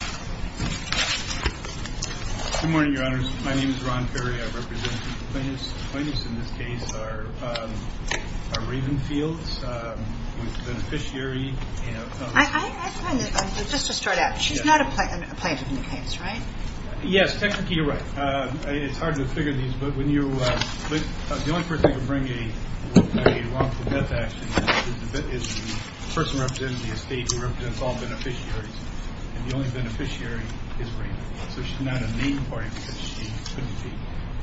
Good morning, Your Honors. My name is Ron Ferry. I represent the plaintiffs. The plaintiffs in this case are Ravenfields with beneficiary, you know, I find that, just to start out, she's not a plaintiff in the case, right? Yes, technically you're right. It's hard to figure these, but when you, the only person who can bring a wrongful death action is the person representing the estate who represents all beneficiaries, and the only beneficiary is Raven. So she's not a main party because she couldn't be,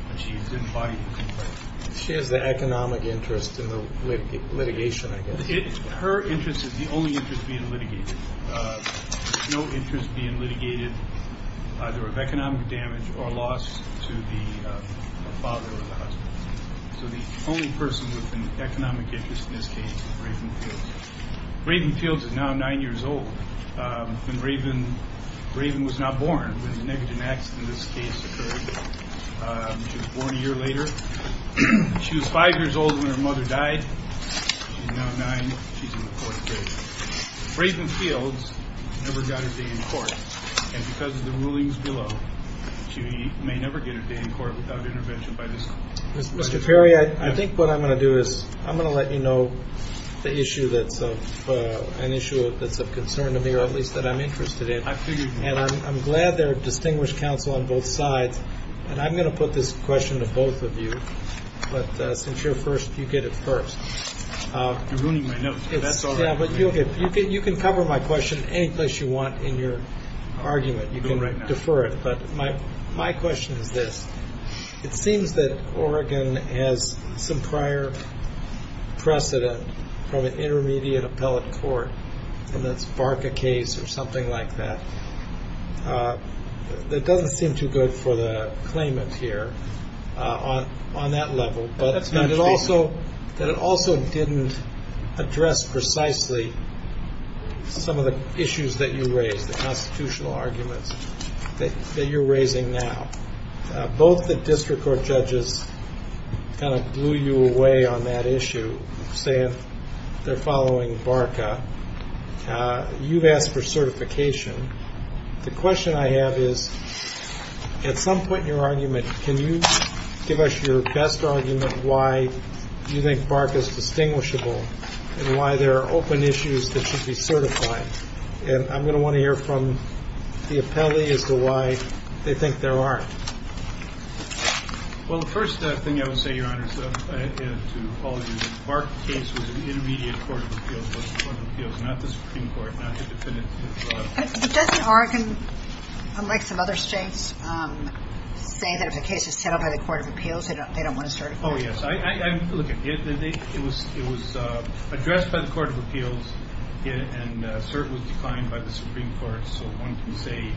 but she's embodied in the complaint. She has the economic interest in the litigation, I guess. Her interest is the only interest being litigated. There's no interest being litigated either of economic damage or loss to the father or the husband. So the only person with an economic interest in this case is Ravenfields. Ravenfields is now nine years old. And Raven was not born when the negative accident in this case occurred. She was born a year later. She was five years old when her mother died. She's now nine. She's in the court today. Ravenfields never got a day in court. And because of the rulings below, she may never get a day in court without intervention by this court. Mr. Perry, I think what I'm going to do is I'm going to let you know the issue that's of concern to me, or at least that I'm interested in. And I'm glad there are distinguished counsel on both sides. And I'm going to put this question to both of you. But since you're first, you get it first. You're ruining my notes. That's all right. You can cover my question any place you want in your argument. You can defer it. But my question is this. It seems that Oregon has some prior precedent from an intermediate appellate court, and that's Barker case or something like that. That doesn't seem too good for the claimant here on that level. But it also didn't address precisely some of the issues that you raised, the constitutional arguments that you're raising now. Both the district court judges kind of blew you away on that issue, saying they're following Barker. You've asked for certification. The question I have is, at some point in your argument, can you give us your best argument why you think Barker is distinguishable and why there are open issues that should be certified? And I'm going to want to hear from the appellee as to why they think there aren't. Well, the first thing I would say, Your Honor, to all of you, Barker case was an intermediate court of appeals. It was a court of appeals, not the Supreme Court, not the defendant. But doesn't Oregon, unlike some other states, say that if the case is settled by the court of appeals, they don't want to certify it? Oh, yes. Look, it was addressed by the court of appeals, and cert was declined by the Supreme Court, so one can say,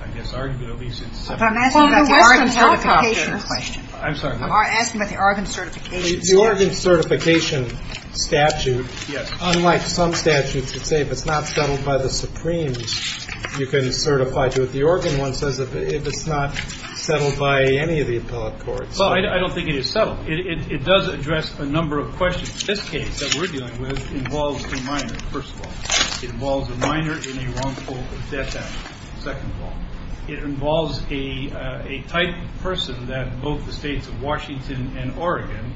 I guess, arguably, since September. I'm asking about the Oregon certification question. I'm sorry. I'm asking about the Oregon certification statute. The Oregon certification statute, unlike some statutes, would say if it's not settled by the Supremes, you can certify to it. The Oregon one says if it's not settled by any of the appellate courts. Well, I don't think it is settled. It does address a number of questions. This case that we're dealing with involves a minor, first of all. It involves a minor in a wrongful death action, second of all. It involves a type of person that both the states of Washington and Oregon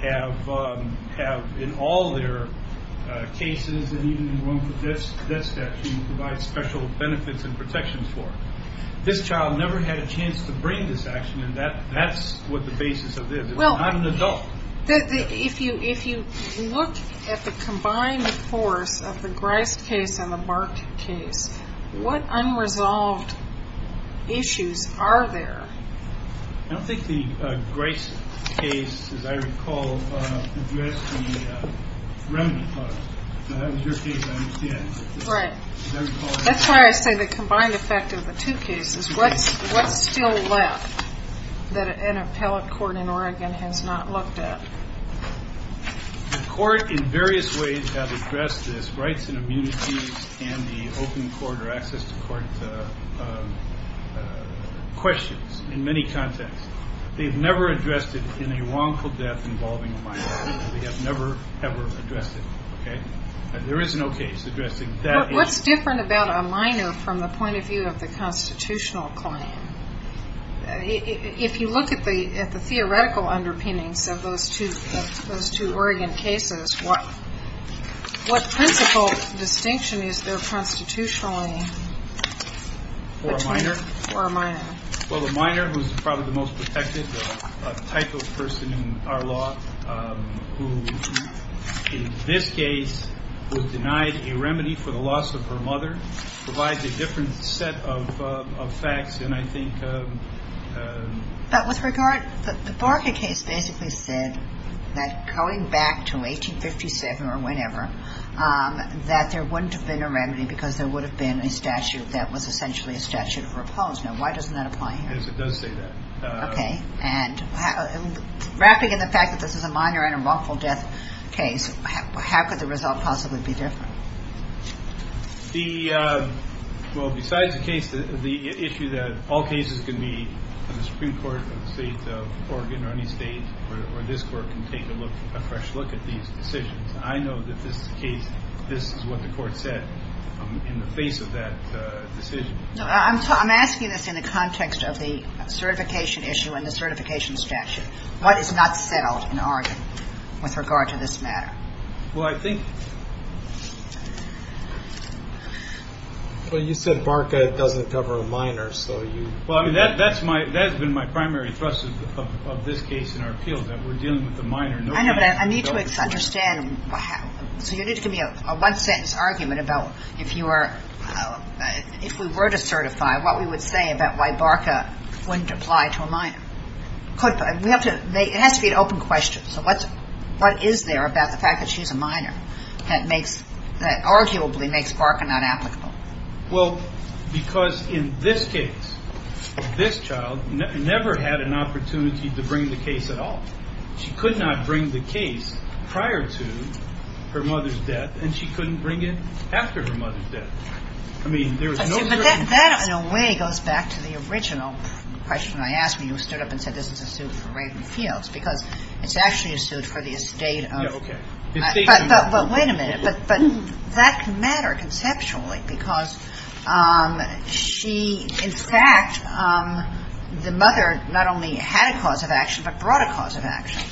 have in all their cases and even in wrongful death statutes provide special benefits and protections for. This child never had a chance to bring this action, and that's what the basis of this. It was not an adult. If you look at the combined force of the Grice case and the Mark case, what unresolved issues are there? I don't think the Grice case, as I recall, addressed the remedy part. That was your case, I understand. Right. That's why I say the combined effect of the two cases. What's still left that an appellate court in Oregon has not looked at? The court in various ways has addressed this rights and immunities and the open court or access to court questions in many contexts. They've never addressed it in a wrongful death involving a minor. They have never, ever addressed it. There is no case addressing that. What's different about a minor from the point of view of the constitutional claim? If you look at the theoretical underpinnings of those two Oregon cases, what principle distinction is there constitutionally? For a minor? For a minor. Well, the minor, who's probably the most protected type of person in our law, who in this case was denied a remedy for the loss of her mother, provides a different set of facts than I think. But with regard, the Barca case basically said that going back to 1857 or whenever, that there wouldn't have been a remedy because there would have been a statute that was essentially a statute of repose. Now, why doesn't that apply here? Yes, it does say that. Okay. And wrapping in the fact that this is a minor and a wrongful death case, how could the result possibly be different? Well, besides the issue that all cases can be in the Supreme Court of the state of Oregon or any state, or this court can take a fresh look at these decisions, I know that this is what the court said in the face of that decision. No, I'm asking this in the context of the certification issue and the certification statute. What is not settled in Oregon with regard to this matter? Well, I think you said Barca doesn't cover a minor, so you – Well, I mean, that's been my primary thrust of this case in our appeal, that we're dealing with a minor. I know, but I need to understand. So you need to give me a one-sentence argument about if you were – if we were to certify what we would say about why Barca wouldn't apply to a minor. It has to be an open question. So what is there about the fact that she's a minor that makes – that arguably makes Barca not applicable? Well, because in this case, this child never had an opportunity to bring the case at all. She could not bring the case prior to her mother's death, and she couldn't bring it after her mother's death. I mean, there is no – But that, in a way, goes back to the original question I asked when you stood up and said, this is a suit for Ravenfields, because it's actually a suit for the estate of – Yeah, okay. But wait a minute. But that mattered conceptually because she – In fact, the mother not only had a cause of action but brought a cause of action.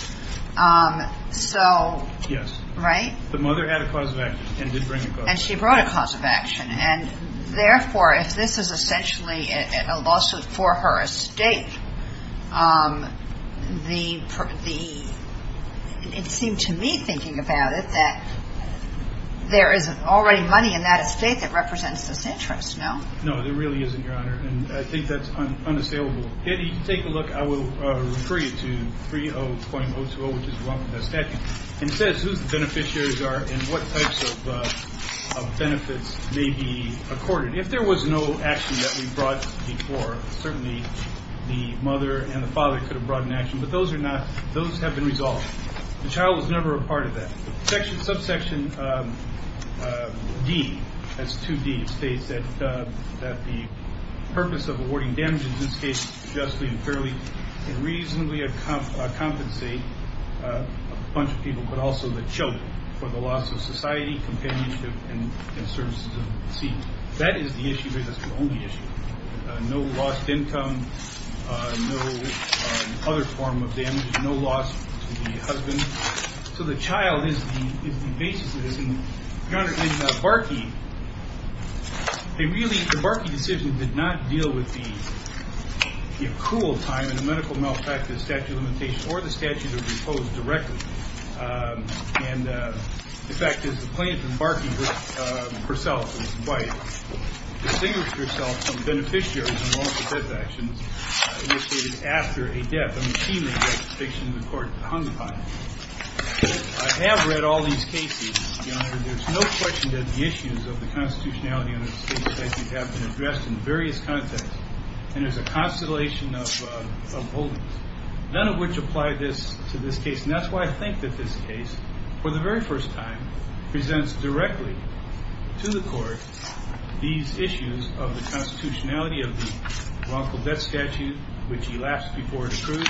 So – Yes. Right? The mother had a cause of action and did bring a cause of action. And she brought a cause of action. And therefore, if this is essentially a lawsuit for her estate, the – it seemed to me, thinking about it, that there is already money in that estate that represents this interest, no? No, there really isn't, Your Honor. And I think that's unassailable. If you take a look, I will refer you to 30.020, which is the statute. It says whose beneficiaries are and what types of benefits may be accorded. If there was no action that we brought before, certainly the mother and the father could have brought an action. But those are not – those have been resolved. The child was never a part of that. Subsection D, that's 2D, states that the purpose of awarding damages in this case is to justly and fairly and reasonably compensate a bunch of people but also the children for the loss of society, companionship, and services of the seed. That is the issue here. That's the only issue. No lost income, no other form of damages, no loss to the husband. So the child is the basis of this. And, Your Honor, in Barkey, they really – the Barkey decision did not deal with the accrual time and the medical malpractice of statute of limitations or the statute of repose directly. And, in fact, it's the plaintiff in Barkey who, herself and his wife, distinguished herself from beneficiaries in the wrongful death actions initiated after a death, a machinely death conviction the court hung upon. I have read all these cases, Your Honor. There's no question that the issues of the constitutionality of the state statute have been addressed in various contexts. And there's a constellation of holdings, none of which apply to this case. And that's why I think that this case, for the very first time, presents directly to the court these issues of the constitutionality of the wrongful death statute, which elapsed before it approved,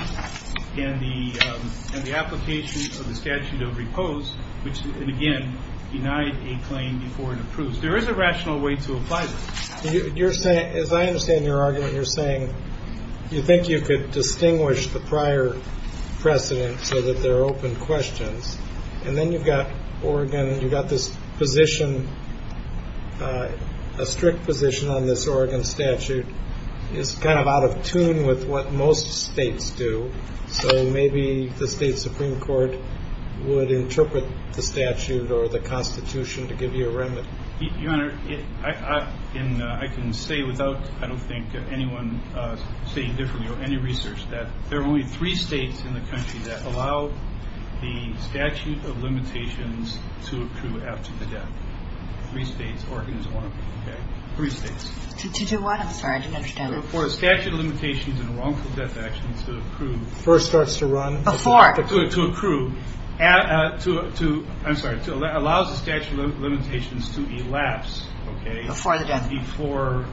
and the application of the statute of repose, which, again, denied a claim before it approved. There is a rational way to apply this. As I understand your argument, you're saying you think you could distinguish the prior precedent so that there are open questions, and then you've got Oregon, you've got this position, a strict position on this Oregon statute is kind of out of tune with what most states do. So maybe the state supreme court would interpret the statute or the constitution to give you a remedy. Your Honor, I can say without, I don't think, anyone stating differently or any research that there are only three states in the country that allow the statute of limitations to accrue after the death. Three states, Oregon is one of them, okay? Three states. To do what? I'm sorry, I didn't understand. For statute of limitations and wrongful death actions to approve. First starts to run. Before. To accrue. I'm sorry, allows the statute of limitations to elapse, okay? Before the death. Before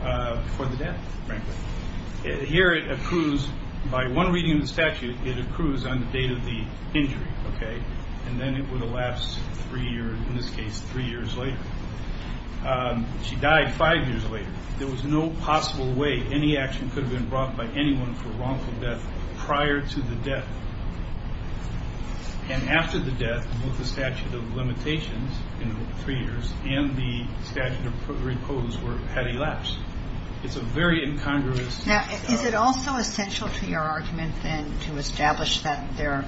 the death, frankly. Here it accrues by one reading of the statute, it accrues on the date of the injury, okay? And then it would elapse three years, in this case, three years later. She died five years later. There was no possible way any action could have been brought by anyone for wrongful death prior to the death. And after the death, both the statute of limitations in three years and the statute of repose had elapsed. It's a very incongruous. Now, is it also essential to your argument then to establish that there,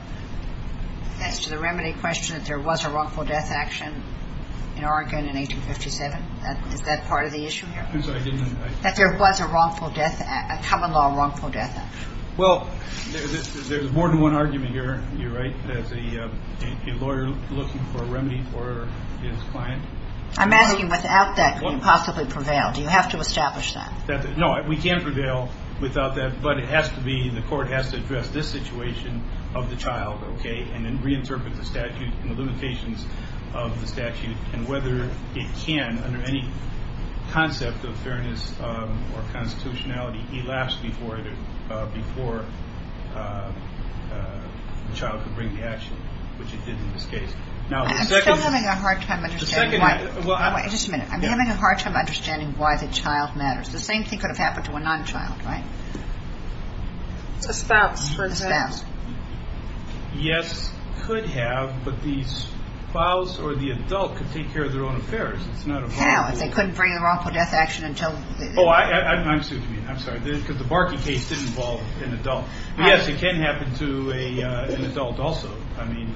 thanks to the remedy question, that there was a wrongful death action in Oregon in 1857? Is that part of the issue here? I'm sorry, I didn't understand. That there was a wrongful death, a common law wrongful death action. Well, there's more than one argument here, you're right, as a lawyer looking for a remedy for his client. I'm asking, without that, can you possibly prevail? Do you have to establish that? No, we can prevail without that, but it has to be, the court has to address this situation of the child, okay, and then reinterpret the statute and the limitations of the statute and whether it can, under any concept of fairness or constitutionality, elapse before the child could bring the action, which it did in this case. I'm still having a hard time understanding why, just a minute, I'm having a hard time understanding why the child matters. The same thing could have happened to a non-child, right? A spouse, for example. A spouse. Yes, could have, but the spouse or the adult could take care of their own affairs. How, if they couldn't bring the wrongful death action until... Oh, I'm sorry, because the Barkey case did involve an adult. Yes, it can happen to an adult also. I mean,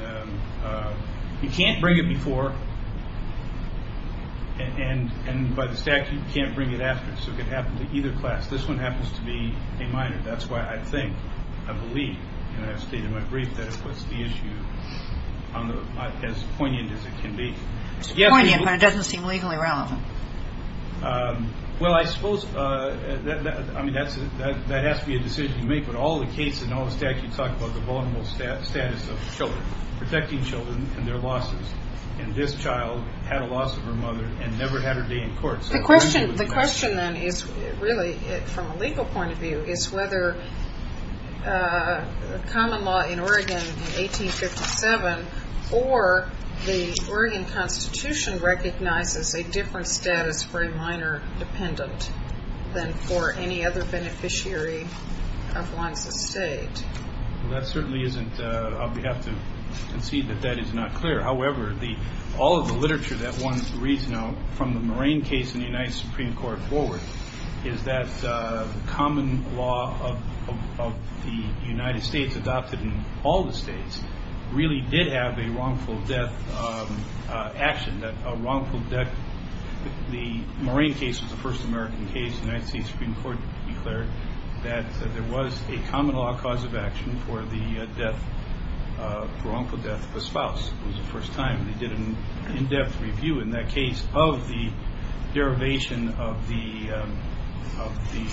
you can't bring it before, and by the statute, you can't bring it after, so it could happen to either class. This one happens to be a minor. That's why I think, I believe, and I've stated in my brief, that it puts the issue on the, as poignant as it can be. It's poignant, but it doesn't seem legally relevant. Well, I suppose, I mean, that has to be a decision to make, but all the cases and all the statutes talk about the vulnerable status of children, protecting children and their losses, and this child had a loss of her mother and never had her day in court. The question, then, is really, from a legal point of view, is whether common law in Oregon in 1857 or the Oregon Constitution recognizes a different status for a minor dependent than for any other beneficiary of one's estate. Well, that certainly isn't, we have to concede that that is not clear. However, all of the literature that one reads now from the Moraine case in the United Supreme Court forward is that the common law of the United States adopted in all the states really did have a wrongful death action, that a wrongful death, the Moraine case was the first American case, the United States Supreme Court declared that there was a common law cause of action for the death, for wrongful death of a spouse. It was the first time they did an in-depth review in that case of the derivation of the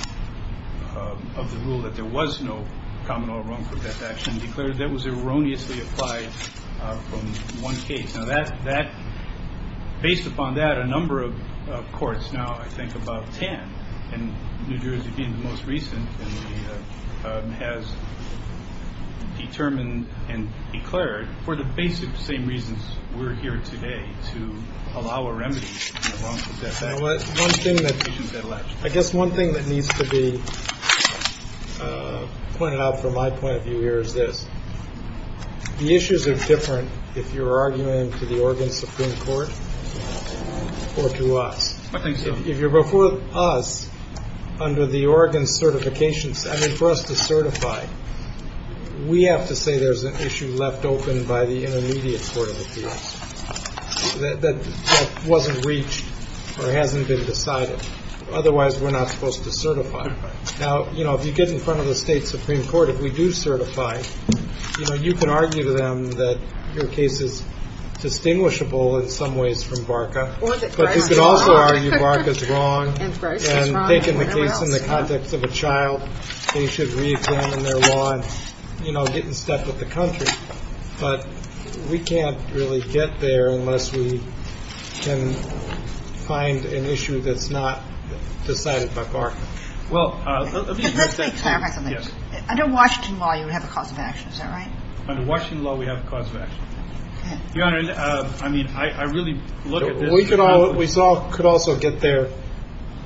rule that there was no common law wrongful death action declared that was erroneously applied from one case. Now, based upon that, a number of courts now, I think about 10, and New Jersey being the most recent, has determined and declared for the basic same reasons we're here today, to allow a remedy for wrongful death. I guess one thing that needs to be pointed out from my point of view here is this. The issues are different if you're arguing to the Oregon Supreme Court or to us. I think so. If you're before us under the Oregon certifications, I mean, for us to certify, we have to say there's an issue left open by the intermediate court of appeals that wasn't reached or hasn't been decided. Otherwise, we're not supposed to certify. Now, you know, if you get in front of the state supreme court, if we do certify, you know, you can argue to them that your case is distinguishable in some ways from Barka, but you can also argue Barka's wrong, and taking the case in the context of a child, they should re-examine their law and, you know, get in step with the country. But we can't really get there unless we can find an issue that's not decided by Barka. Well, let me say something. Under Washington law, you have a cause of action. Is that right? Under Washington law, we have a cause of action. Your Honor, I mean, I really look at this. We could also get there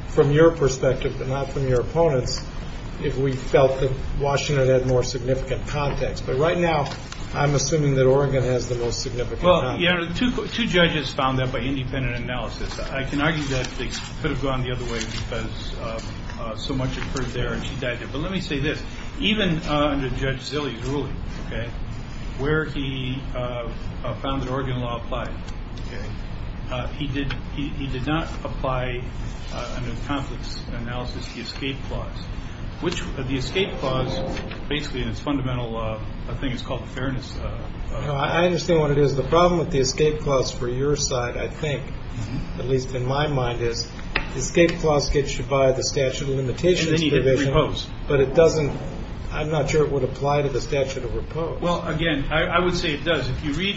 from your perspective, but not from your opponent's, if we felt that Washington had more significant context. But right now, I'm assuming that Oregon has the most significant context. Well, Your Honor, two judges found that by independent analysis. I can argue that they could have gone the other way because so much occurred there and she died there. But let me say this. Even under Judge Zille's ruling, okay, where he found that Oregon law applied, okay, he did not apply under the conflicts analysis the escape clause. The escape clause basically in its fundamental law, I think it's called the fairness. I understand what it is. So the problem with the escape clause for your side, I think, at least in my mind, is the escape clause gets you by the statute of limitations provision, but it doesn't. I'm not sure it would apply to the statute of repose. Well, again, I would say it does. If you read,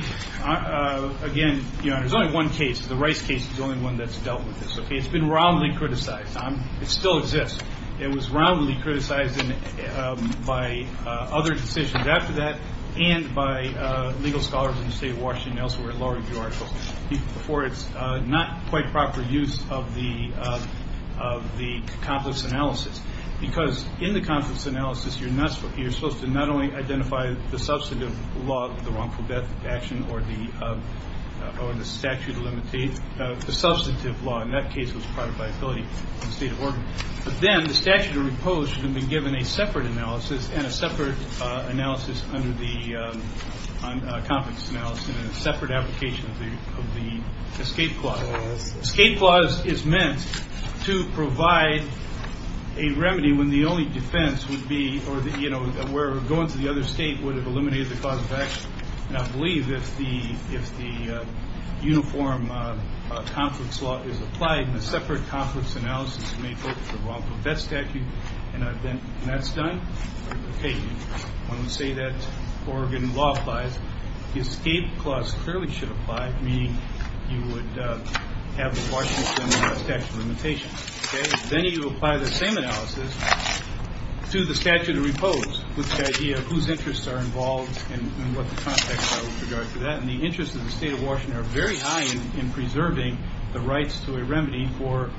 again, Your Honor, there's only one case. The Rice case is the only one that's dealt with this. It's been roundly criticized. It still exists. It was roundly criticized by other decisions after that and by legal scholars in the state of Washington, elsewhere, that lowered the article for its not quite proper use of the conflicts analysis because in the conflicts analysis you're supposed to not only identify the substantive law, the wrongful death action or the statute of limitations, the substantive law in that case was private liability in the state of Oregon. But then the statute of repose should have been given a separate analysis and a separate analysis under the conflicts analysis and a separate application of the escape clause. Escape clause is meant to provide a remedy when the only defense would be or where going to the other state would have eliminated the cause of action. And I believe if the uniform conflicts law is applied and a separate conflicts analysis may focus the wrongful death statute, and that's done, when we say that Oregon law applies, the escape clause clearly should apply, meaning you would have the Washington statute of limitations. Then you apply the same analysis to the statute of repose with the idea of whose interests are involved and what the context are with regard to that. And the interests of the state of Washington are very high in preserving the rights to a remedy for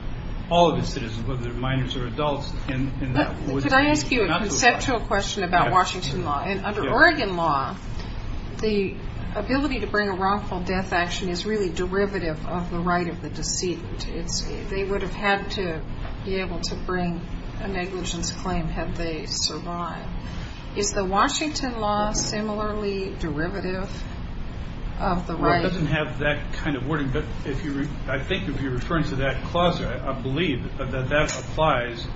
all of its citizens, whether they're minors or adults. Could I ask you a conceptual question about Washington law? And under Oregon law, the ability to bring a wrongful death action is really derivative of the right of the deceit. They would have had to be able to bring a negligence claim had they survived. Is the Washington law similarly derivative of the right? It doesn't have that kind of wording, but I think if you're referring to that clause, I believe that that applies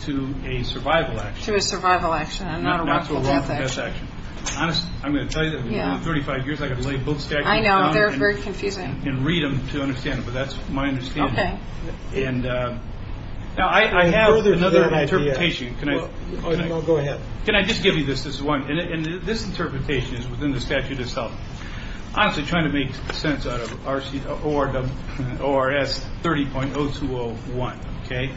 to a survival action. To a survival action and not a wrongful death action. That's a wrongful death action. I'm going to tell you that in 35 years I've got to lay both statutes down. I know. They're very confusing. And read them to understand them, but that's my understanding. Okay. And now I have another interpretation. Go ahead. Can I just give you this? This is one. And this interpretation is within the statute itself. I'm trying to make sense out of RC or the ORS 30.0 2 0 1. Okay.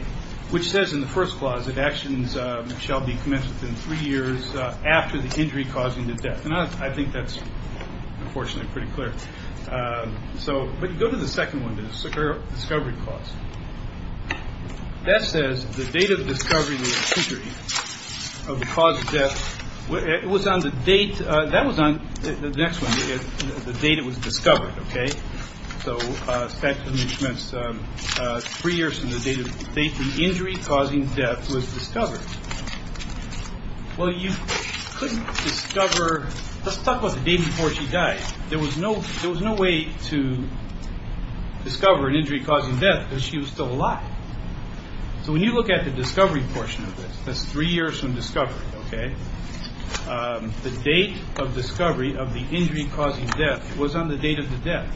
Which says in the first clause that actions shall be commenced within three years after the injury causing the death. And I think that's unfortunately pretty clear. So go to the second one to secure discovery cause. That says the date of discovery of the cause of death was on the date. That was on the next one. The date it was discovered. Okay. So three years from the date of injury causing death was discovered. Well, you couldn't discover. Let's talk about the day before she died. There was no there was no way to discover an injury causing death because she was still alive. So when you look at the discovery portion of this, that's three years from discovery. Okay. The date of discovery of the injury causing death was on the date of the death.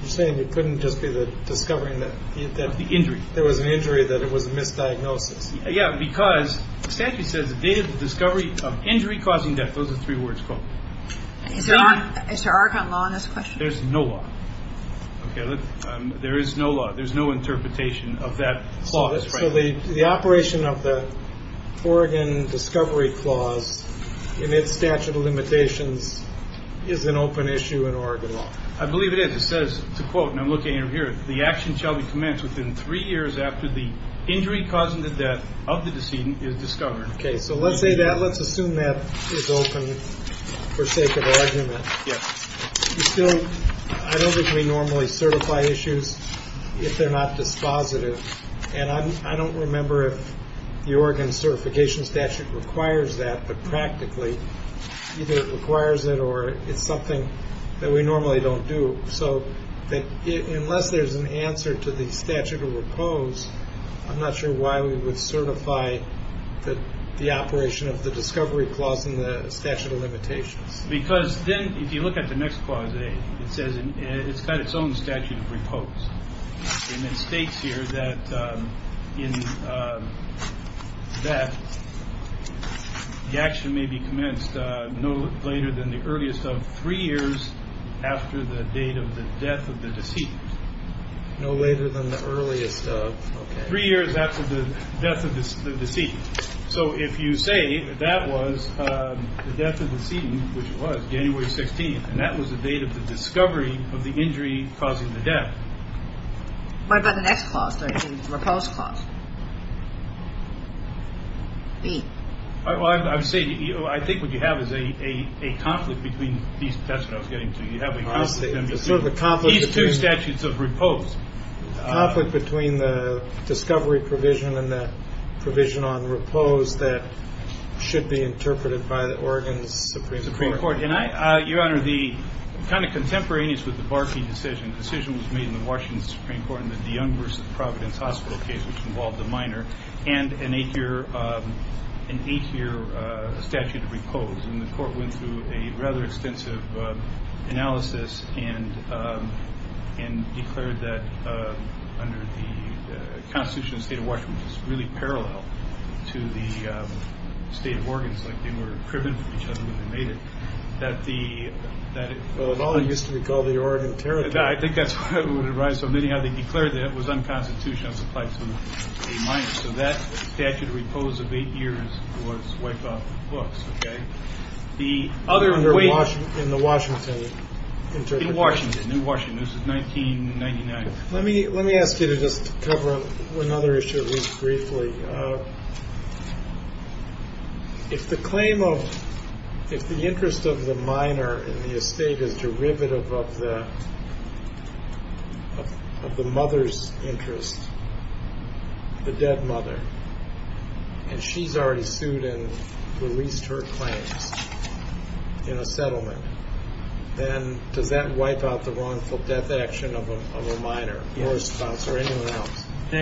You're saying you couldn't just be the discovery that the injury. There was an injury that it was a misdiagnosis. Yeah. Because the statute says the date of the discovery of injury causing death. Those are three words. Is there a law on this question? There's no law. There is no law. There's no interpretation of that. The operation of the Oregon discovery clause in its statute of limitations is an open issue in Oregon law. I believe it is. It says to quote and I'm looking here. The action shall be commenced within three years after the injury causing the death of the decedent is discovered. Okay. So let's say that let's assume that is open for sake of argument. Yes. And I don't remember if the Oregon certification statute requires that, but practically either requires it or it's something that we normally don't do. So that unless there's an answer to the statute of repose, I'm not sure why we would certify that the operation of the discovery clause in the statute of limitations. Because then if you look at the next clause, it says it's got its own statute of repose. And it states here that in that the action may be commenced no later than the earliest of three years after the date of the death of the decedent. No later than the earliest of three years after the death of the decedent. So if you say that was the death of the decedent, which was January 16th, and that was the date of the discovery of the injury causing the death. What about the next clause, the repose clause? I would say I think what you have is a conflict between these two statutes of repose. A conflict between the discovery provision and the provision on repose that should be interpreted by the Oregon Supreme Court. Your Honor, the kind of contemporaneous with the Barkey decision, the decision was made in the Washington Supreme Court in the DeYoung v. Providence Hospital case, which involved a minor and an eight-year statute of repose. And the court went through a rather extensive analysis and and declared that under the Constitution, the state of Washington is really parallel to the state of Oregon. They were driven from each other when they made it that the law used to be called the Oregon Territory. I think that's what it would arise from. Anyhow, they declared that it was unconstitutional. So that statute of repose of eight years was wiped off the books. The other way in the Washington, in Washington, in Washington, this is 1999. Let me let me ask you to just cover another issue briefly. If the claim of if the interest of the minor in the estate is derivative of the. Of the mother's interest. The dead mother. And she's already sued and released her claims in a settlement. And does that wipe out the wrongful death action of a minor? The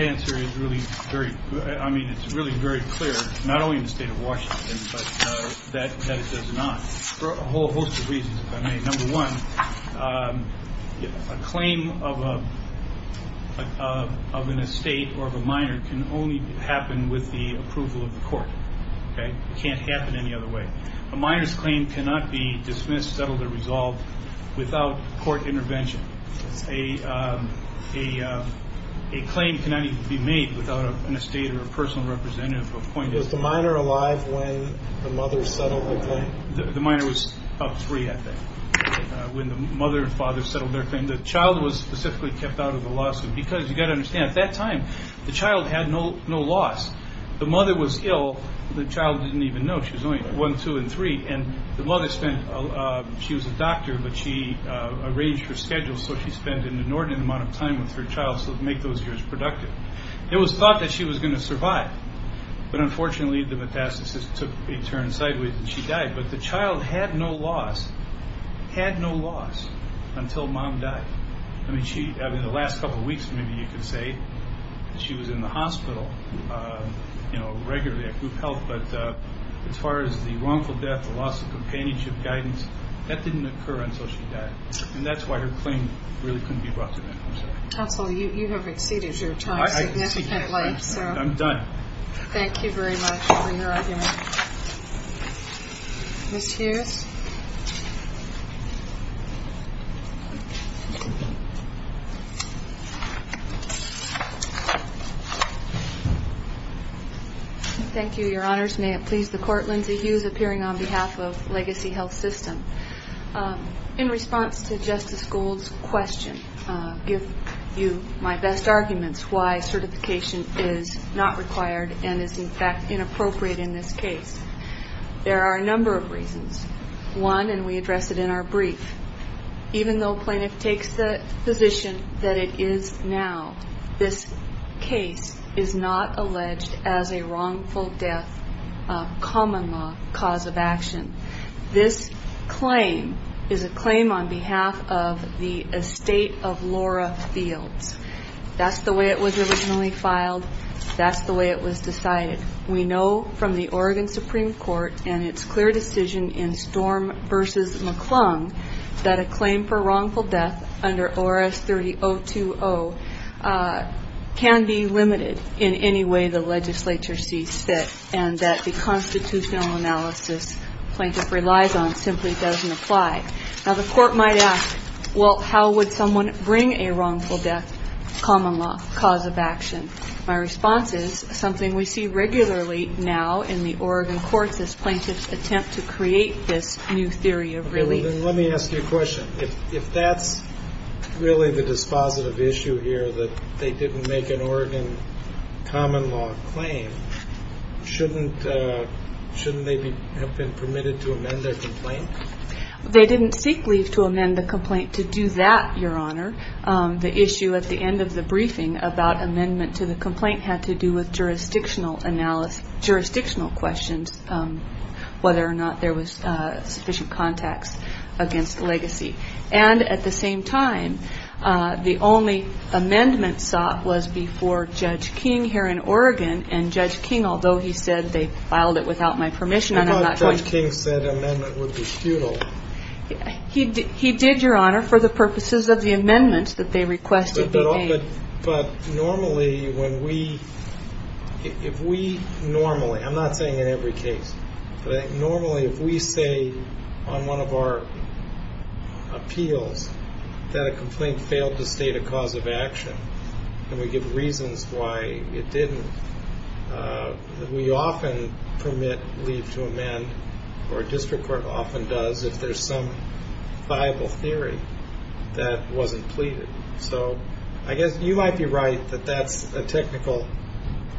answer is really very good. I mean, it's really very clear, not only in the state of Washington, but that it does not for a whole host of reasons. I mean, number one, a claim of a of an estate or of a minor can only happen with the approval of the court. It can't happen any other way. A minor's claim cannot be dismissed, settled or resolved without court intervention. A claim cannot be made without an estate or a personal representative appointed. Is the minor alive when the mother settled the claim? The minor was up three, I think, when the mother and father settled their claim. The child was specifically kept out of the lawsuit because you got to understand at that time the child had no loss. The mother was ill. The child didn't even know she was only one, two and three. And the mother spent, she was a doctor, but she arranged her schedule so she spent an inordinate amount of time with her child to make those years productive. It was thought that she was going to survive. But unfortunately, the metastasis took a turn sideways and she died. But the child had no loss, had no loss until mom died. I mean, the last couple of weeks, maybe you could say she was in the hospital regularly at group health. But as far as the wrongful death, the loss of companionship, guidance, that didn't occur until she died. And that's why her claim really couldn't be brought to me. Counsel, you have exceeded your time significantly. I'm done. Thank you very much for your argument. Ms. Hughes? Thank you, Your Honors. May it please the Court, Lindsay Hughes, appearing on behalf of Legacy Health System. In response to Justice Gould's question, give you my best arguments why certification is not required and is, in fact, inappropriate in this case. There are a number of reasons. One, and we address it in our brief, even though plaintiff takes the position that it is now, this case is not alleged as a wrongful death, a common law cause of action. This claim is a claim on behalf of the estate of Laura Fields. That's the way it was originally filed. That's the way it was decided. We know from the Oregon Supreme Court and its clear decision in Storm v. McClung that a claim for wrongful death under ORS 30020 can be limited in any way the legislature sees fit and that the constitutional analysis plaintiff relies on simply doesn't apply. Now, the Court might ask, well, how would someone bring a wrongful death common law cause of action? My response is something we see regularly now in the Oregon courts as plaintiffs attempt to create this new theory of relief. Let me ask you a question. If that's really the dispositive issue here, that they didn't make an Oregon common law claim, shouldn't they have been permitted to amend their complaint? They didn't seek leave to amend the complaint to do that, Your Honor. The issue at the end of the briefing about amendment to the complaint had to do with jurisdictional questions, whether or not there was sufficient context against legacy. And at the same time, the only amendment sought was before Judge King here in Oregon, and Judge King, although he said they filed it without my permission. I thought Judge King said amendment would be futile. He did, Your Honor, for the purposes of the amendments that they requested be made. But normally when we, if we normally, I'm not saying in every case, but I think normally if we say on one of our appeals that a complaint failed to state a cause of action and we give reasons why it didn't, we often permit leave to amend or a district court often does if there's some viable theory that wasn't pleaded. So I guess you might be right that that's a technical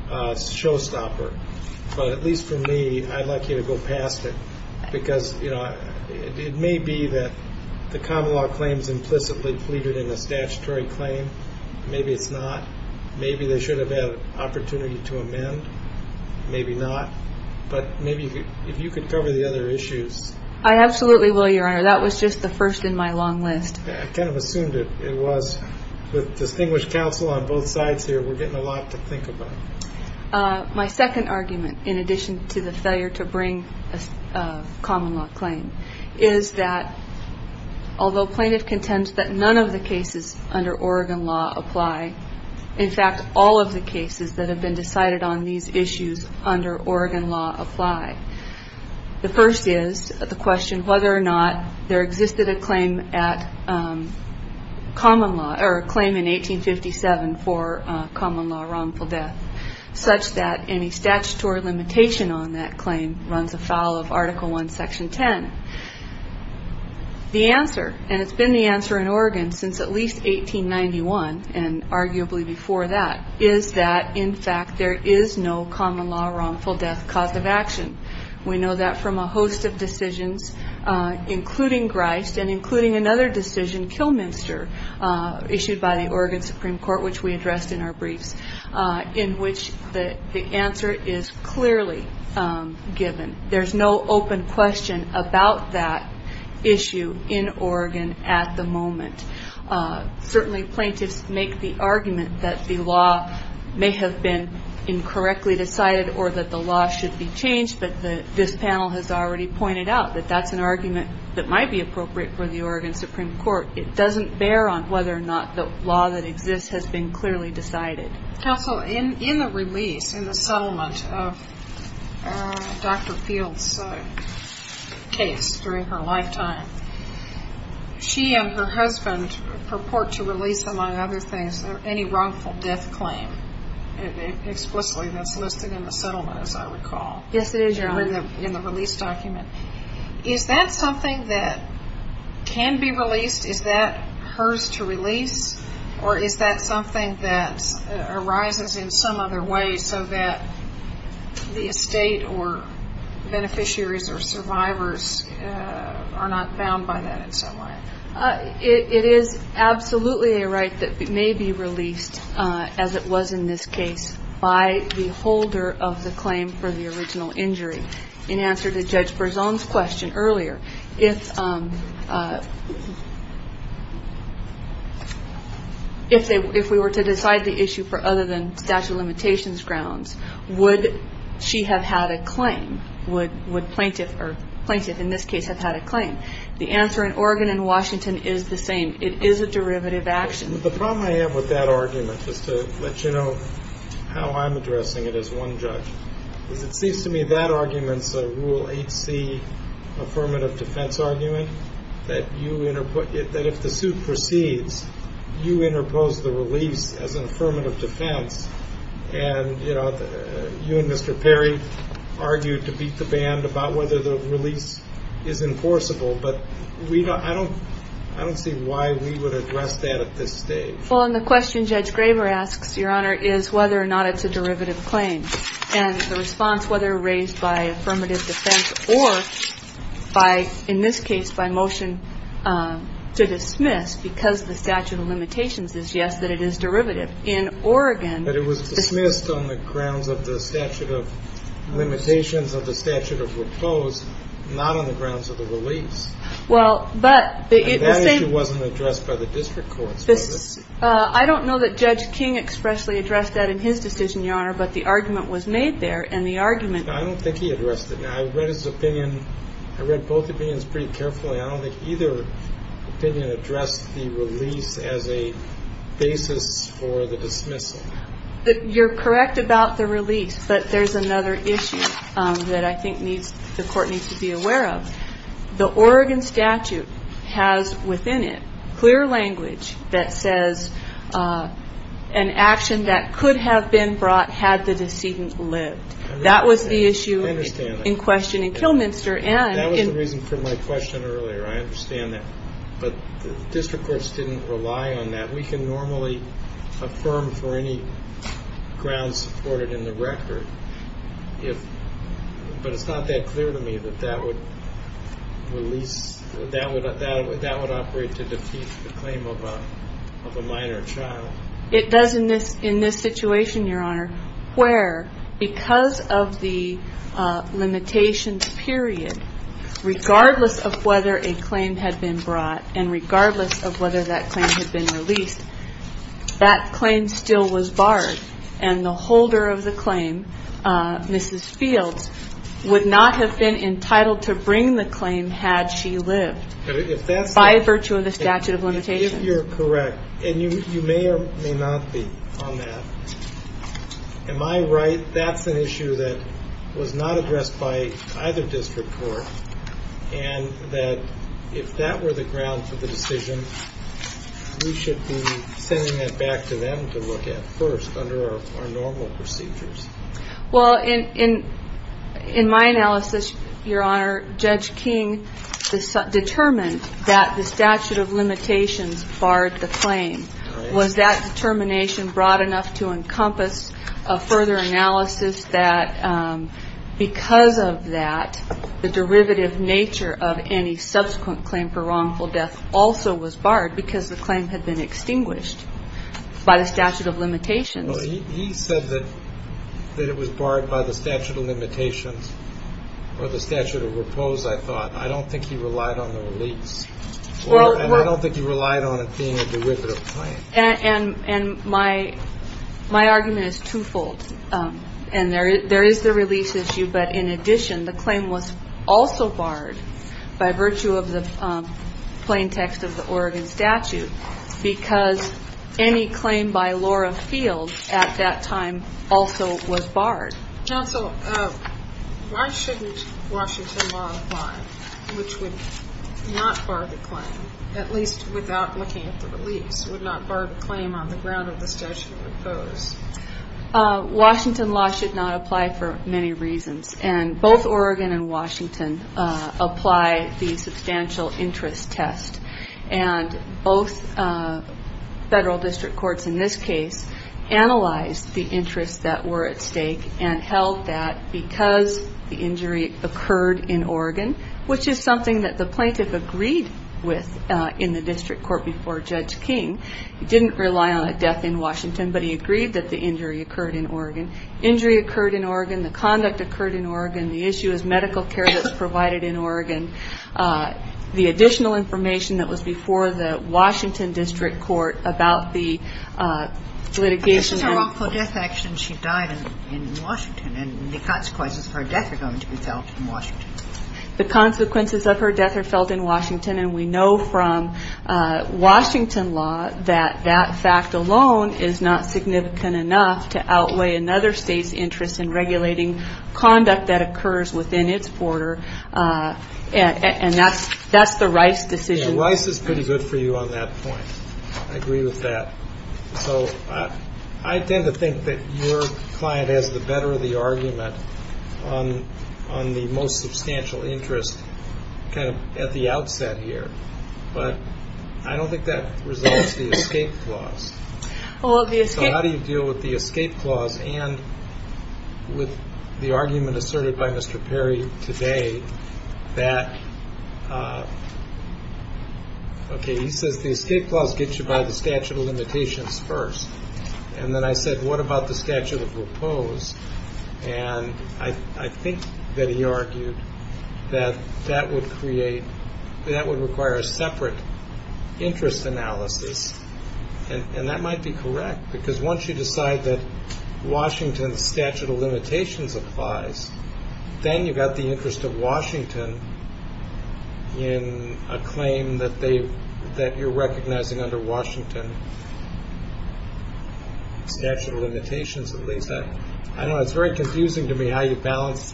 showstopper. But at least for me, I'd like you to go past it because, you know, it may be that the common law claim is implicitly pleaded in the statutory claim. Maybe it's not. Maybe they should have had an opportunity to amend. Maybe not. But maybe if you could cover the other issues. I absolutely will, Your Honor. That was just the first in my long list. I kind of assumed it was. With distinguished counsel on both sides here, we're getting a lot to think about. My second argument, in addition to the failure to bring a common law claim, is that although plaintiff contends that none of the cases under Oregon law apply, in fact, all of the cases that have been decided on these issues under Oregon law apply. The first is the question whether or not there existed a claim at common law or a claim in 1857 for common law wrongful death, such that any statutory limitation on that claim runs afoul of Article I, Section 10. The answer, and it's been the answer in Oregon since at least 1891 and arguably before that, is that, in fact, there is no common law wrongful death cause of action. We know that from a host of decisions, including Grist and including another decision, Kilminster, issued by the Oregon Supreme Court, which we addressed in our briefs, in which the answer is clearly given. There's no open question about that issue in Oregon at the moment. Certainly plaintiffs make the argument that the law may have been incorrectly decided or that the law should be changed, but this panel has already pointed out that that's an argument that might be appropriate for the Oregon Supreme Court. It doesn't bear on whether or not the law that exists has been clearly decided. Counsel, in the release, in the settlement of Dr. Fields' case during her lifetime, she and her husband purport to release, among other things, any wrongful death claim explicitly that's listed in the settlement, as I recall. Yes, it is, Your Honor. In the release document. Is that something that can be released? Is that hers to release, or is that something that arises in some other way so that the estate or beneficiaries or survivors are not bound by that in some way? It is absolutely a right that may be released, as it was in this case, by the holder of the claim for the original injury. In answer to Judge Berzon's question earlier, if we were to decide the issue for other than statute of limitations grounds, would she have had a claim, would plaintiff in this case have had a claim? The answer in Oregon and Washington is the same. It is a derivative action. The problem I have with that argument, just to let you know how I'm addressing it as one judge, is it seems to me that argument's a Rule 8c affirmative defense argument, that if the suit proceeds, you interpose the release as an affirmative defense, and you and Mr. Perry argued to beat the band about whether the release is enforceable, but I don't see why we would address that at this stage. Well, and the question Judge Graver asks, Your Honor, is whether or not it's a derivative claim, and the response, whether raised by affirmative defense or, in this case, by motion to dismiss because of the statute of limitations is yes, that it is derivative. In Oregon ---- But it was dismissed on the grounds of the statute of limitations, of the statute of repose, not on the grounds of the release. Well, but the same ---- And that issue wasn't addressed by the district courts. I don't know that Judge King expressly addressed that in his decision, Your Honor, but the argument was made there, and the argument ---- I don't think he addressed it. I read his opinion. I read both opinions pretty carefully. I don't think either opinion addressed the release as a basis for the dismissal. You're correct about the release, but there's another issue that I think the Court needs to be aware of. The Oregon statute has within it clear language that says an action that could have been brought had the decedent lived. That was the issue in question in Kilminster. That was the reason for my question earlier. I understand that. But the district courts didn't rely on that. We can normally affirm for any grounds supported in the record, but it's not that clear to me that that would release ---- that would operate to defeat the claim of a minor child. It does in this situation, Your Honor, where because of the limitations period, regardless of whether a claim had been brought and regardless of whether that claim had been released, that claim still was barred, and the holder of the claim, Mrs. Fields, would not have been entitled to bring the claim had she lived by virtue of the statute of limitations. If you're correct, and you may or may not be on that, am I right, that's an issue that was not addressed by either district court, and that if that were the ground for the decision, we should be sending that back to them to look at first under our normal procedures? Well, in my analysis, Your Honor, Judge King determined that the statute of limitations barred the claim. Was that determination broad enough to encompass a further analysis that because of that, the derivative nature of any subsequent claim for wrongful death also was barred because the claim had been extinguished by the statute of limitations? Well, he said that it was barred by the statute of limitations or the statute of repose, I thought. I don't think he relied on the release, and I don't think he relied on it being a derivative claim. And my argument is twofold, and there is the release issue, but in addition, the claim was also barred by virtue of the plain text of the Oregon statute because any claim by Laura Field at that time also was barred. Counsel, why shouldn't Washington law apply, which would not bar the claim, at least without looking at the release, would not bar the claim on the ground of the statute of repose? Washington law should not apply for many reasons, and both Oregon and Washington apply the substantial interest test, and both federal district courts in this case analyzed the interests that were at stake and held that because the injury occurred in Oregon, which is something that the plaintiff agreed with in the district court before Judge King. He didn't rely on a death in Washington, but he agreed that the injury occurred in Oregon. Injury occurred in Oregon. The conduct occurred in Oregon. The issue is medical care that's provided in Oregon. The additional information that was before the Washington district court about the litigation. This is her awful death action. She died in Washington, and the consequences of her death are going to be felt in Washington. The consequences of her death are felt in Washington, and we know from Washington law that that fact alone is not significant enough to outweigh another state's interest in regulating conduct that occurs within its border, and that's the Rice decision. Rice is pretty good for you on that point. I agree with that. So I tend to think that your client has the better of the argument on the most substantial interest kind of at the outset. But I don't think that resolves the escape clause. How do you deal with the escape clause and with the argument asserted by Mr. Perry today that, okay, he says the escape clause gets you by the statute of limitations first. And then I said, what about the statute of repose? And I think that he argued that that would require a separate interest analysis, and that might be correct because once you decide that Washington's statute of limitations applies, then you've got the interest of Washington in a claim that you're recognizing under Washington, statute of limitations at least. I don't know. It's very confusing to me how you balance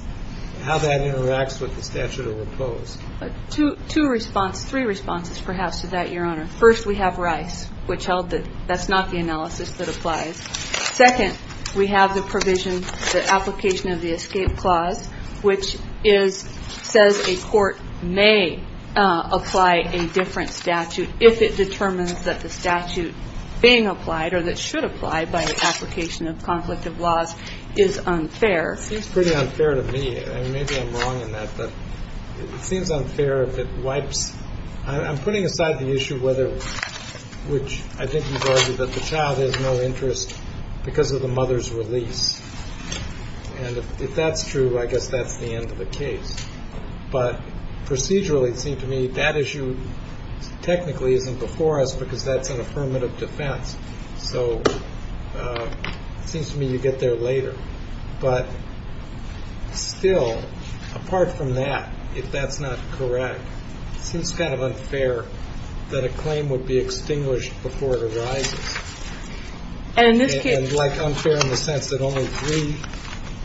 how that interacts with the statute of repose. Two response, three responses perhaps to that, Your Honor. First, we have Rice, which held that that's not the analysis that applies. Second, we have the provision, the application of the escape clause, which says a court may apply a different statute if it determines that the statute being applied or that should apply by the application of conflict of laws is unfair. It seems pretty unfair to me. Maybe I'm wrong in that, but it seems unfair if it wipes. I'm putting aside the issue, which I think you've argued, that the child has no interest because of the mother's release. And if that's true, I guess that's the end of the case. But procedurally, it seems to me, that issue technically isn't before us because that's an affirmative defense. So it seems to me you get there later. But still, apart from that, if that's not correct, it seems kind of unfair that a claim would be extinguished before it arises. And like unfair in the sense that only three,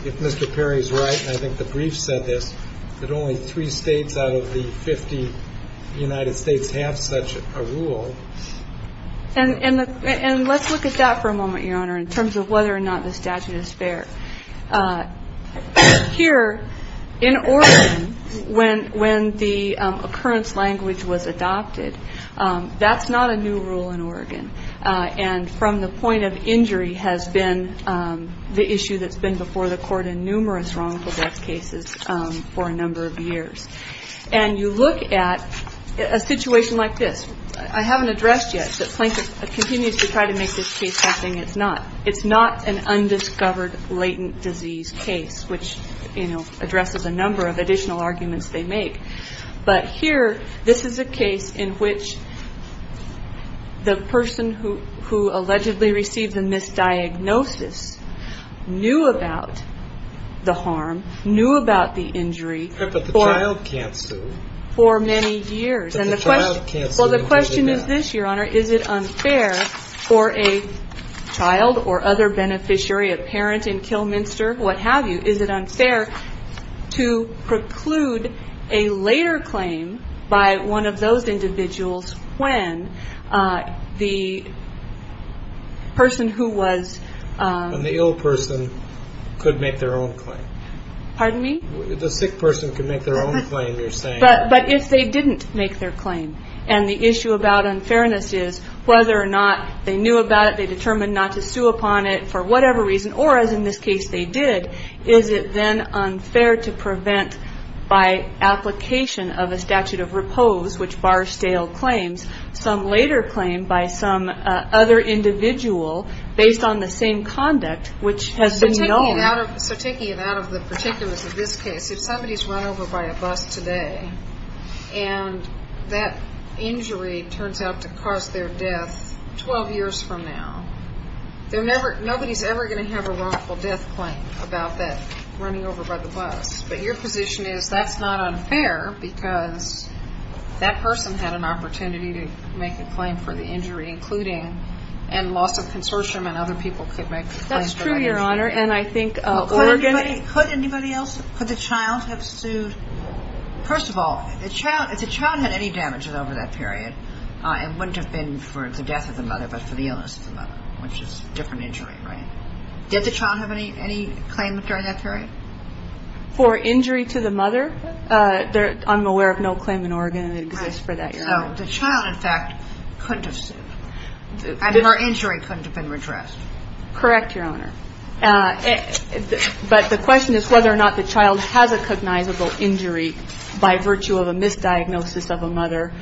if Mr. Perry is right, and I think the brief said this, that only three states out of the 50 United States have such a rule. And let's look at that for a moment, Your Honor, in terms of whether or not the statute is fair. Here in Oregon, when the occurrence language was adopted, that's not a new rule in Oregon. And from the point of injury has been the issue that's been before the court in numerous wrongful death cases for a number of years. And you look at a situation like this. I haven't addressed yet, but Plankett continues to try to make this case as if it's not. It's not an undiscovered latent disease case, which, you know, addresses a number of additional arguments they make. But here, this is a case in which the person who allegedly received the misdiagnosis knew about the harm, knew about the injury for many years. And the question is this, Your Honor. Is it unfair for a child or other beneficiary, a parent in Kilminster, what have you, is it unfair to preclude a later claim by one of those individuals when the person who was. And the ill person could make their own claim. Pardon me? The sick person could make their own claim, you're saying. But if they didn't make their claim. And the issue about unfairness is whether or not they knew about it, they determined not to sue upon it for whatever reason, or as in this case they did, is it then unfair to prevent by application of a statute of repose, which bars stale claims, some later claim by some other individual based on the same conduct, which has been known. So taking it out of the particulars of this case, if somebody's run over by a bus today, and that injury turns out to cause their death 12 years from now, nobody's ever going to have a wrongful death claim about that running over by the bus. But your position is that's not unfair because that person had an opportunity to make a claim for the injury, including and loss of consortium and other people could make a claim for that injury. That's true, Your Honor, and I think Oregon. Could anybody else, could the child have sued? First of all, if the child had any damages over that period, it wouldn't have been for the death of the mother, but for the illness of the mother, which is a different injury, right? Did the child have any claim during that period? For injury to the mother, I'm aware of no claim in Oregon that exists for that, Your Honor. So the child, in fact, couldn't have sued. I mean, her injury couldn't have been redressed. Correct, Your Honor. But the question is whether or not the child has a cognizable injury by virtue of a misdiagnosis of a mother.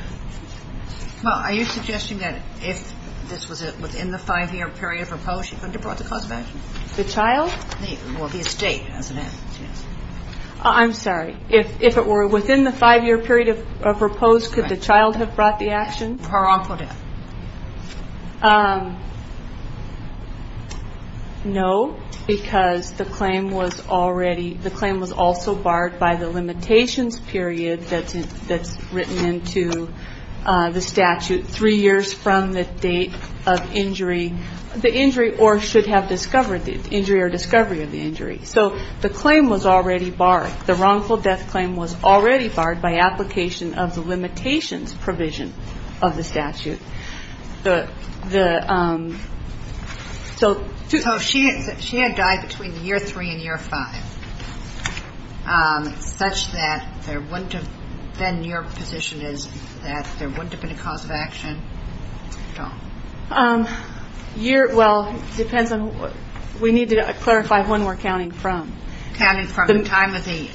Well, are you suggesting that if this was within the five-year period of repose, she couldn't have brought the cause of action? The child? Well, the estate, as it is. I'm sorry. If it were within the five-year period of repose, could the child have brought the action? Her wrongful death. No, because the claim was also barred by the limitations period that's written into the statute three years from the date of injury or should have discovered the injury or discovery of the injury. So the claim was already barred. The wrongful death claim was already barred by application of the limitations provision of the statute. So if she had died between year three and year five, such that there wouldn't have been, your position is that there wouldn't have been a cause of action at all? Well, it depends on, we need to clarify when we're counting from. Counting from the time of the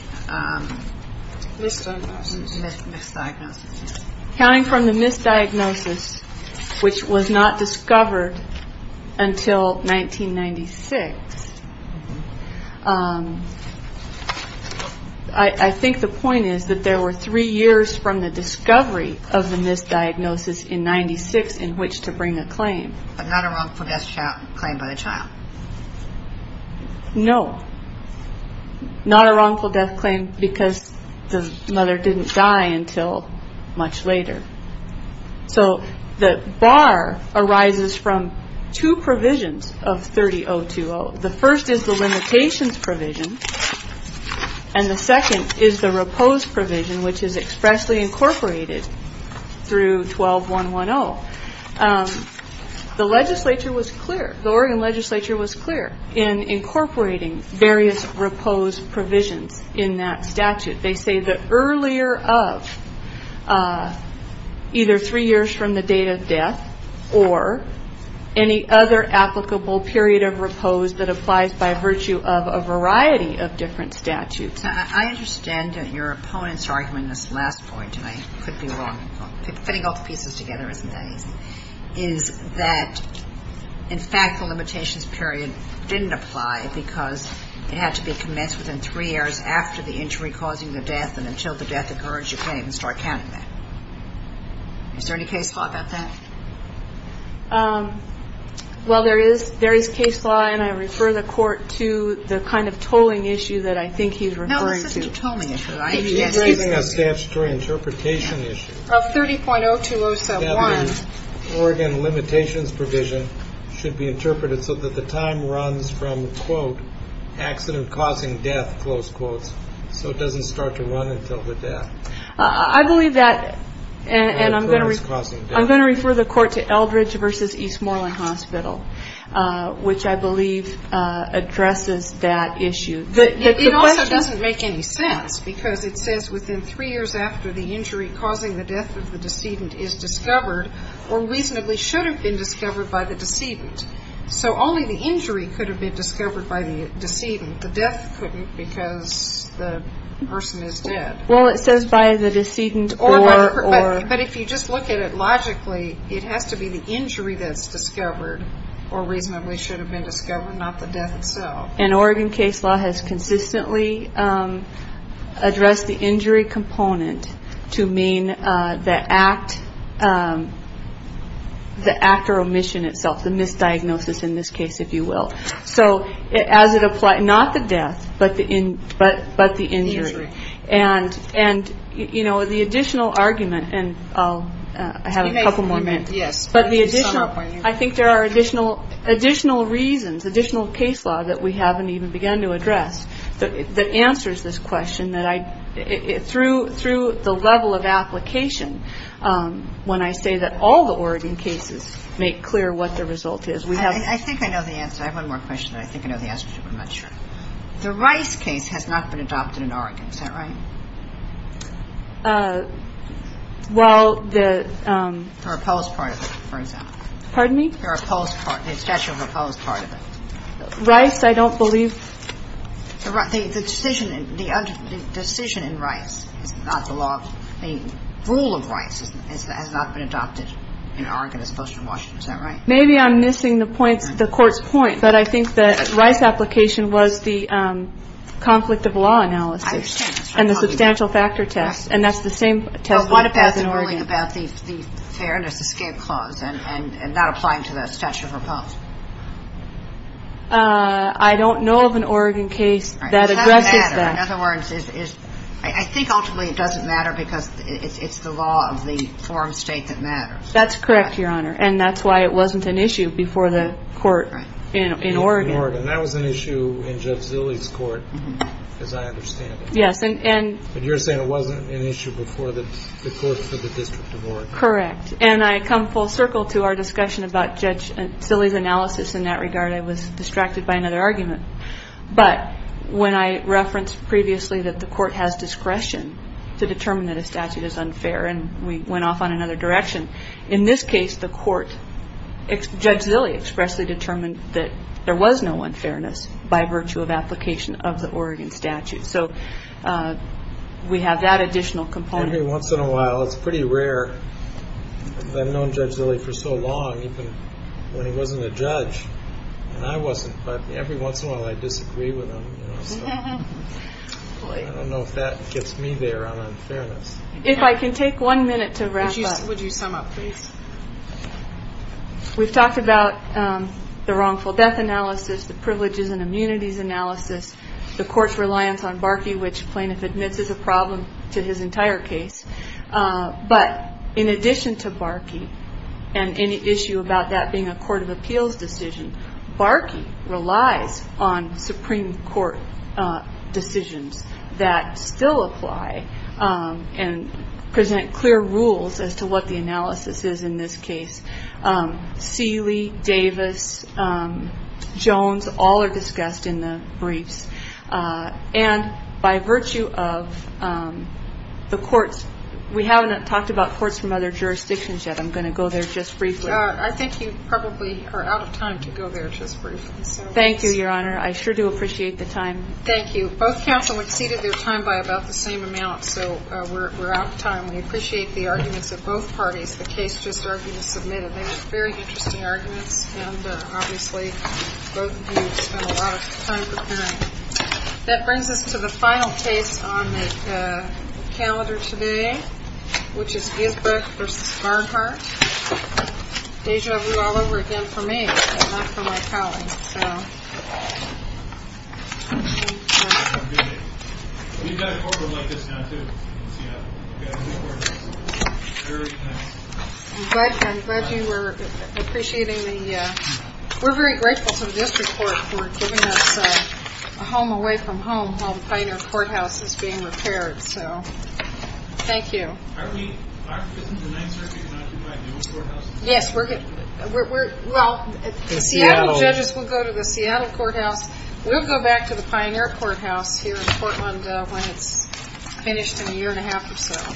misdiagnosis. Counting from the misdiagnosis, which was not discovered until 1996. I think the point is that there were three years from the discovery of the misdiagnosis in 96 in which to bring a claim. But not a wrongful death claim by the child. No. Not a wrongful death claim because the mother didn't die until much later. So the bar arises from two provisions of 30.020. The first is the limitations provision. And the second is the repose provision, which is expressly incorporated through 12.110. The legislature was clear, the Oregon legislature was clear in incorporating various repose provisions in that statute. They say that earlier of either three years from the date of death or any other applicable period of repose that applies by virtue of a variety of different statutes. I understand that your opponent's argument in this last point, and I could be wrong, fitting all the pieces together isn't that easy, is that in fact the limitations period didn't apply because it had to be commenced within three years after the injury causing the death and until the death occurred, you can't even start counting that. Is there any case law about that? Well, there is. There is case law, and I refer the court to the kind of tolling issue that I think he's referring to. No, it's just a tolling issue. He's raising a statutory interpretation issue. Of 30.02071. That the Oregon limitations provision should be interpreted so that the time runs from, quote, accident causing death, close quotes, so it doesn't start to run until the death. I believe that, and I'm going to refer the court to Eldridge v. Eastmoreland Hospital, which I believe addresses that issue. It also doesn't make any sense because it says within three years after the injury causing the death of the decedent is discovered or reasonably should have been discovered by the decedent, so only the injury could have been discovered by the decedent. The death couldn't because the person is dead. Well, it says by the decedent or. But if you just look at it logically, it has to be the injury that's discovered or reasonably should have been discovered, not the death itself. And Oregon case law has consistently addressed the injury component to mean the act or omission itself, the misdiagnosis in this case, if you will. So as it applies, not the death, but the injury. And and, you know, the additional argument and I'll have a couple more minutes. Yes. But the additional I think there are additional additional reasons, additional case law that we haven't even begun to address. The answer is this question that I threw through the level of application. When I say that all the Oregon cases make clear what the result is, we have. I think I know the answer. I have one more question. I think I know the answer. I'm not sure. The Rice case has not been adopted in Oregon. Is that right? Well, the proposed part of it, for example. Pardon me? The statute proposed part of it. Rice. I don't believe the decision. The decision in Rice is not the law. The rule of Rice has not been adopted in Oregon as opposed to Washington. Is that right? Maybe I'm missing the points, the court's point, but I think that Rice application was the conflict of law analysis and the substantial factor test. And that's the same test. But what about the ruling about the fairness escape clause and not applying to the statute proposed? I don't know of an Oregon case that addresses that. In other words, is I think ultimately it doesn't matter because it's the law of the forum state that matters. That's correct, Your Honor. And that's why it wasn't an issue before the court in Oregon. And that was an issue in Judge Zille's court, as I understand it. Yes. And you're saying it wasn't an issue before the court for the District of Oregon. Correct. And I come full circle to our discussion about Judge Zille's analysis in that regard. I was distracted by another argument. But when I referenced previously that the court has discretion to determine that a statute is unfair and we went off on another direction. In this case, the court, Judge Zille expressly determined that there was no unfairness by virtue of application of the Oregon statute. So we have that additional component. Every once in a while. It's pretty rare. I've known Judge Zille for so long, even when he wasn't a judge and I wasn't. But every once in a while I disagree with him. I don't know if that gets me there on unfairness. If I can take one minute to wrap up. Would you sum up, please? We've talked about the wrongful death analysis, the privileges and immunities analysis, the court's reliance on Barkey, which plaintiff admits is a problem to his entire case. But in addition to Barkey and any issue about that being a court of appeals decision, Barkey relies on Supreme Court decisions that still apply and present clear rules as to what the analysis is in this case. Seeley, Davis, Jones, all are discussed in the briefs. And by virtue of the courts, we haven't talked about courts from other jurisdictions yet. I'm going to go there just briefly. I think you probably are out of time to go there just briefly. Thank you, Your Honor. I sure do appreciate the time. Thank you. Both counsel exceeded their time by about the same amount. So we're out of time. We appreciate the arguments of both parties. The case just argued and submitted. They were very interesting arguments and obviously both of you spent a lot of time preparing. That brings us to the final case on the calendar today, which is Gisbrook v. Garnhart. Deja vu all over again for me, but not for my colleague. I'm glad you were appreciating the we're very grateful to the district court for giving us a home away from home while the Pioneer Courthouse is being repaired. Thank you. Aren't the Ninth Circuit going to occupy the old courthouse? Yes. Well, the Seattle judges will go to the Seattle courthouse. We'll go back to the Pioneer Courthouse here in Portland when it's finished in a year and a half or so.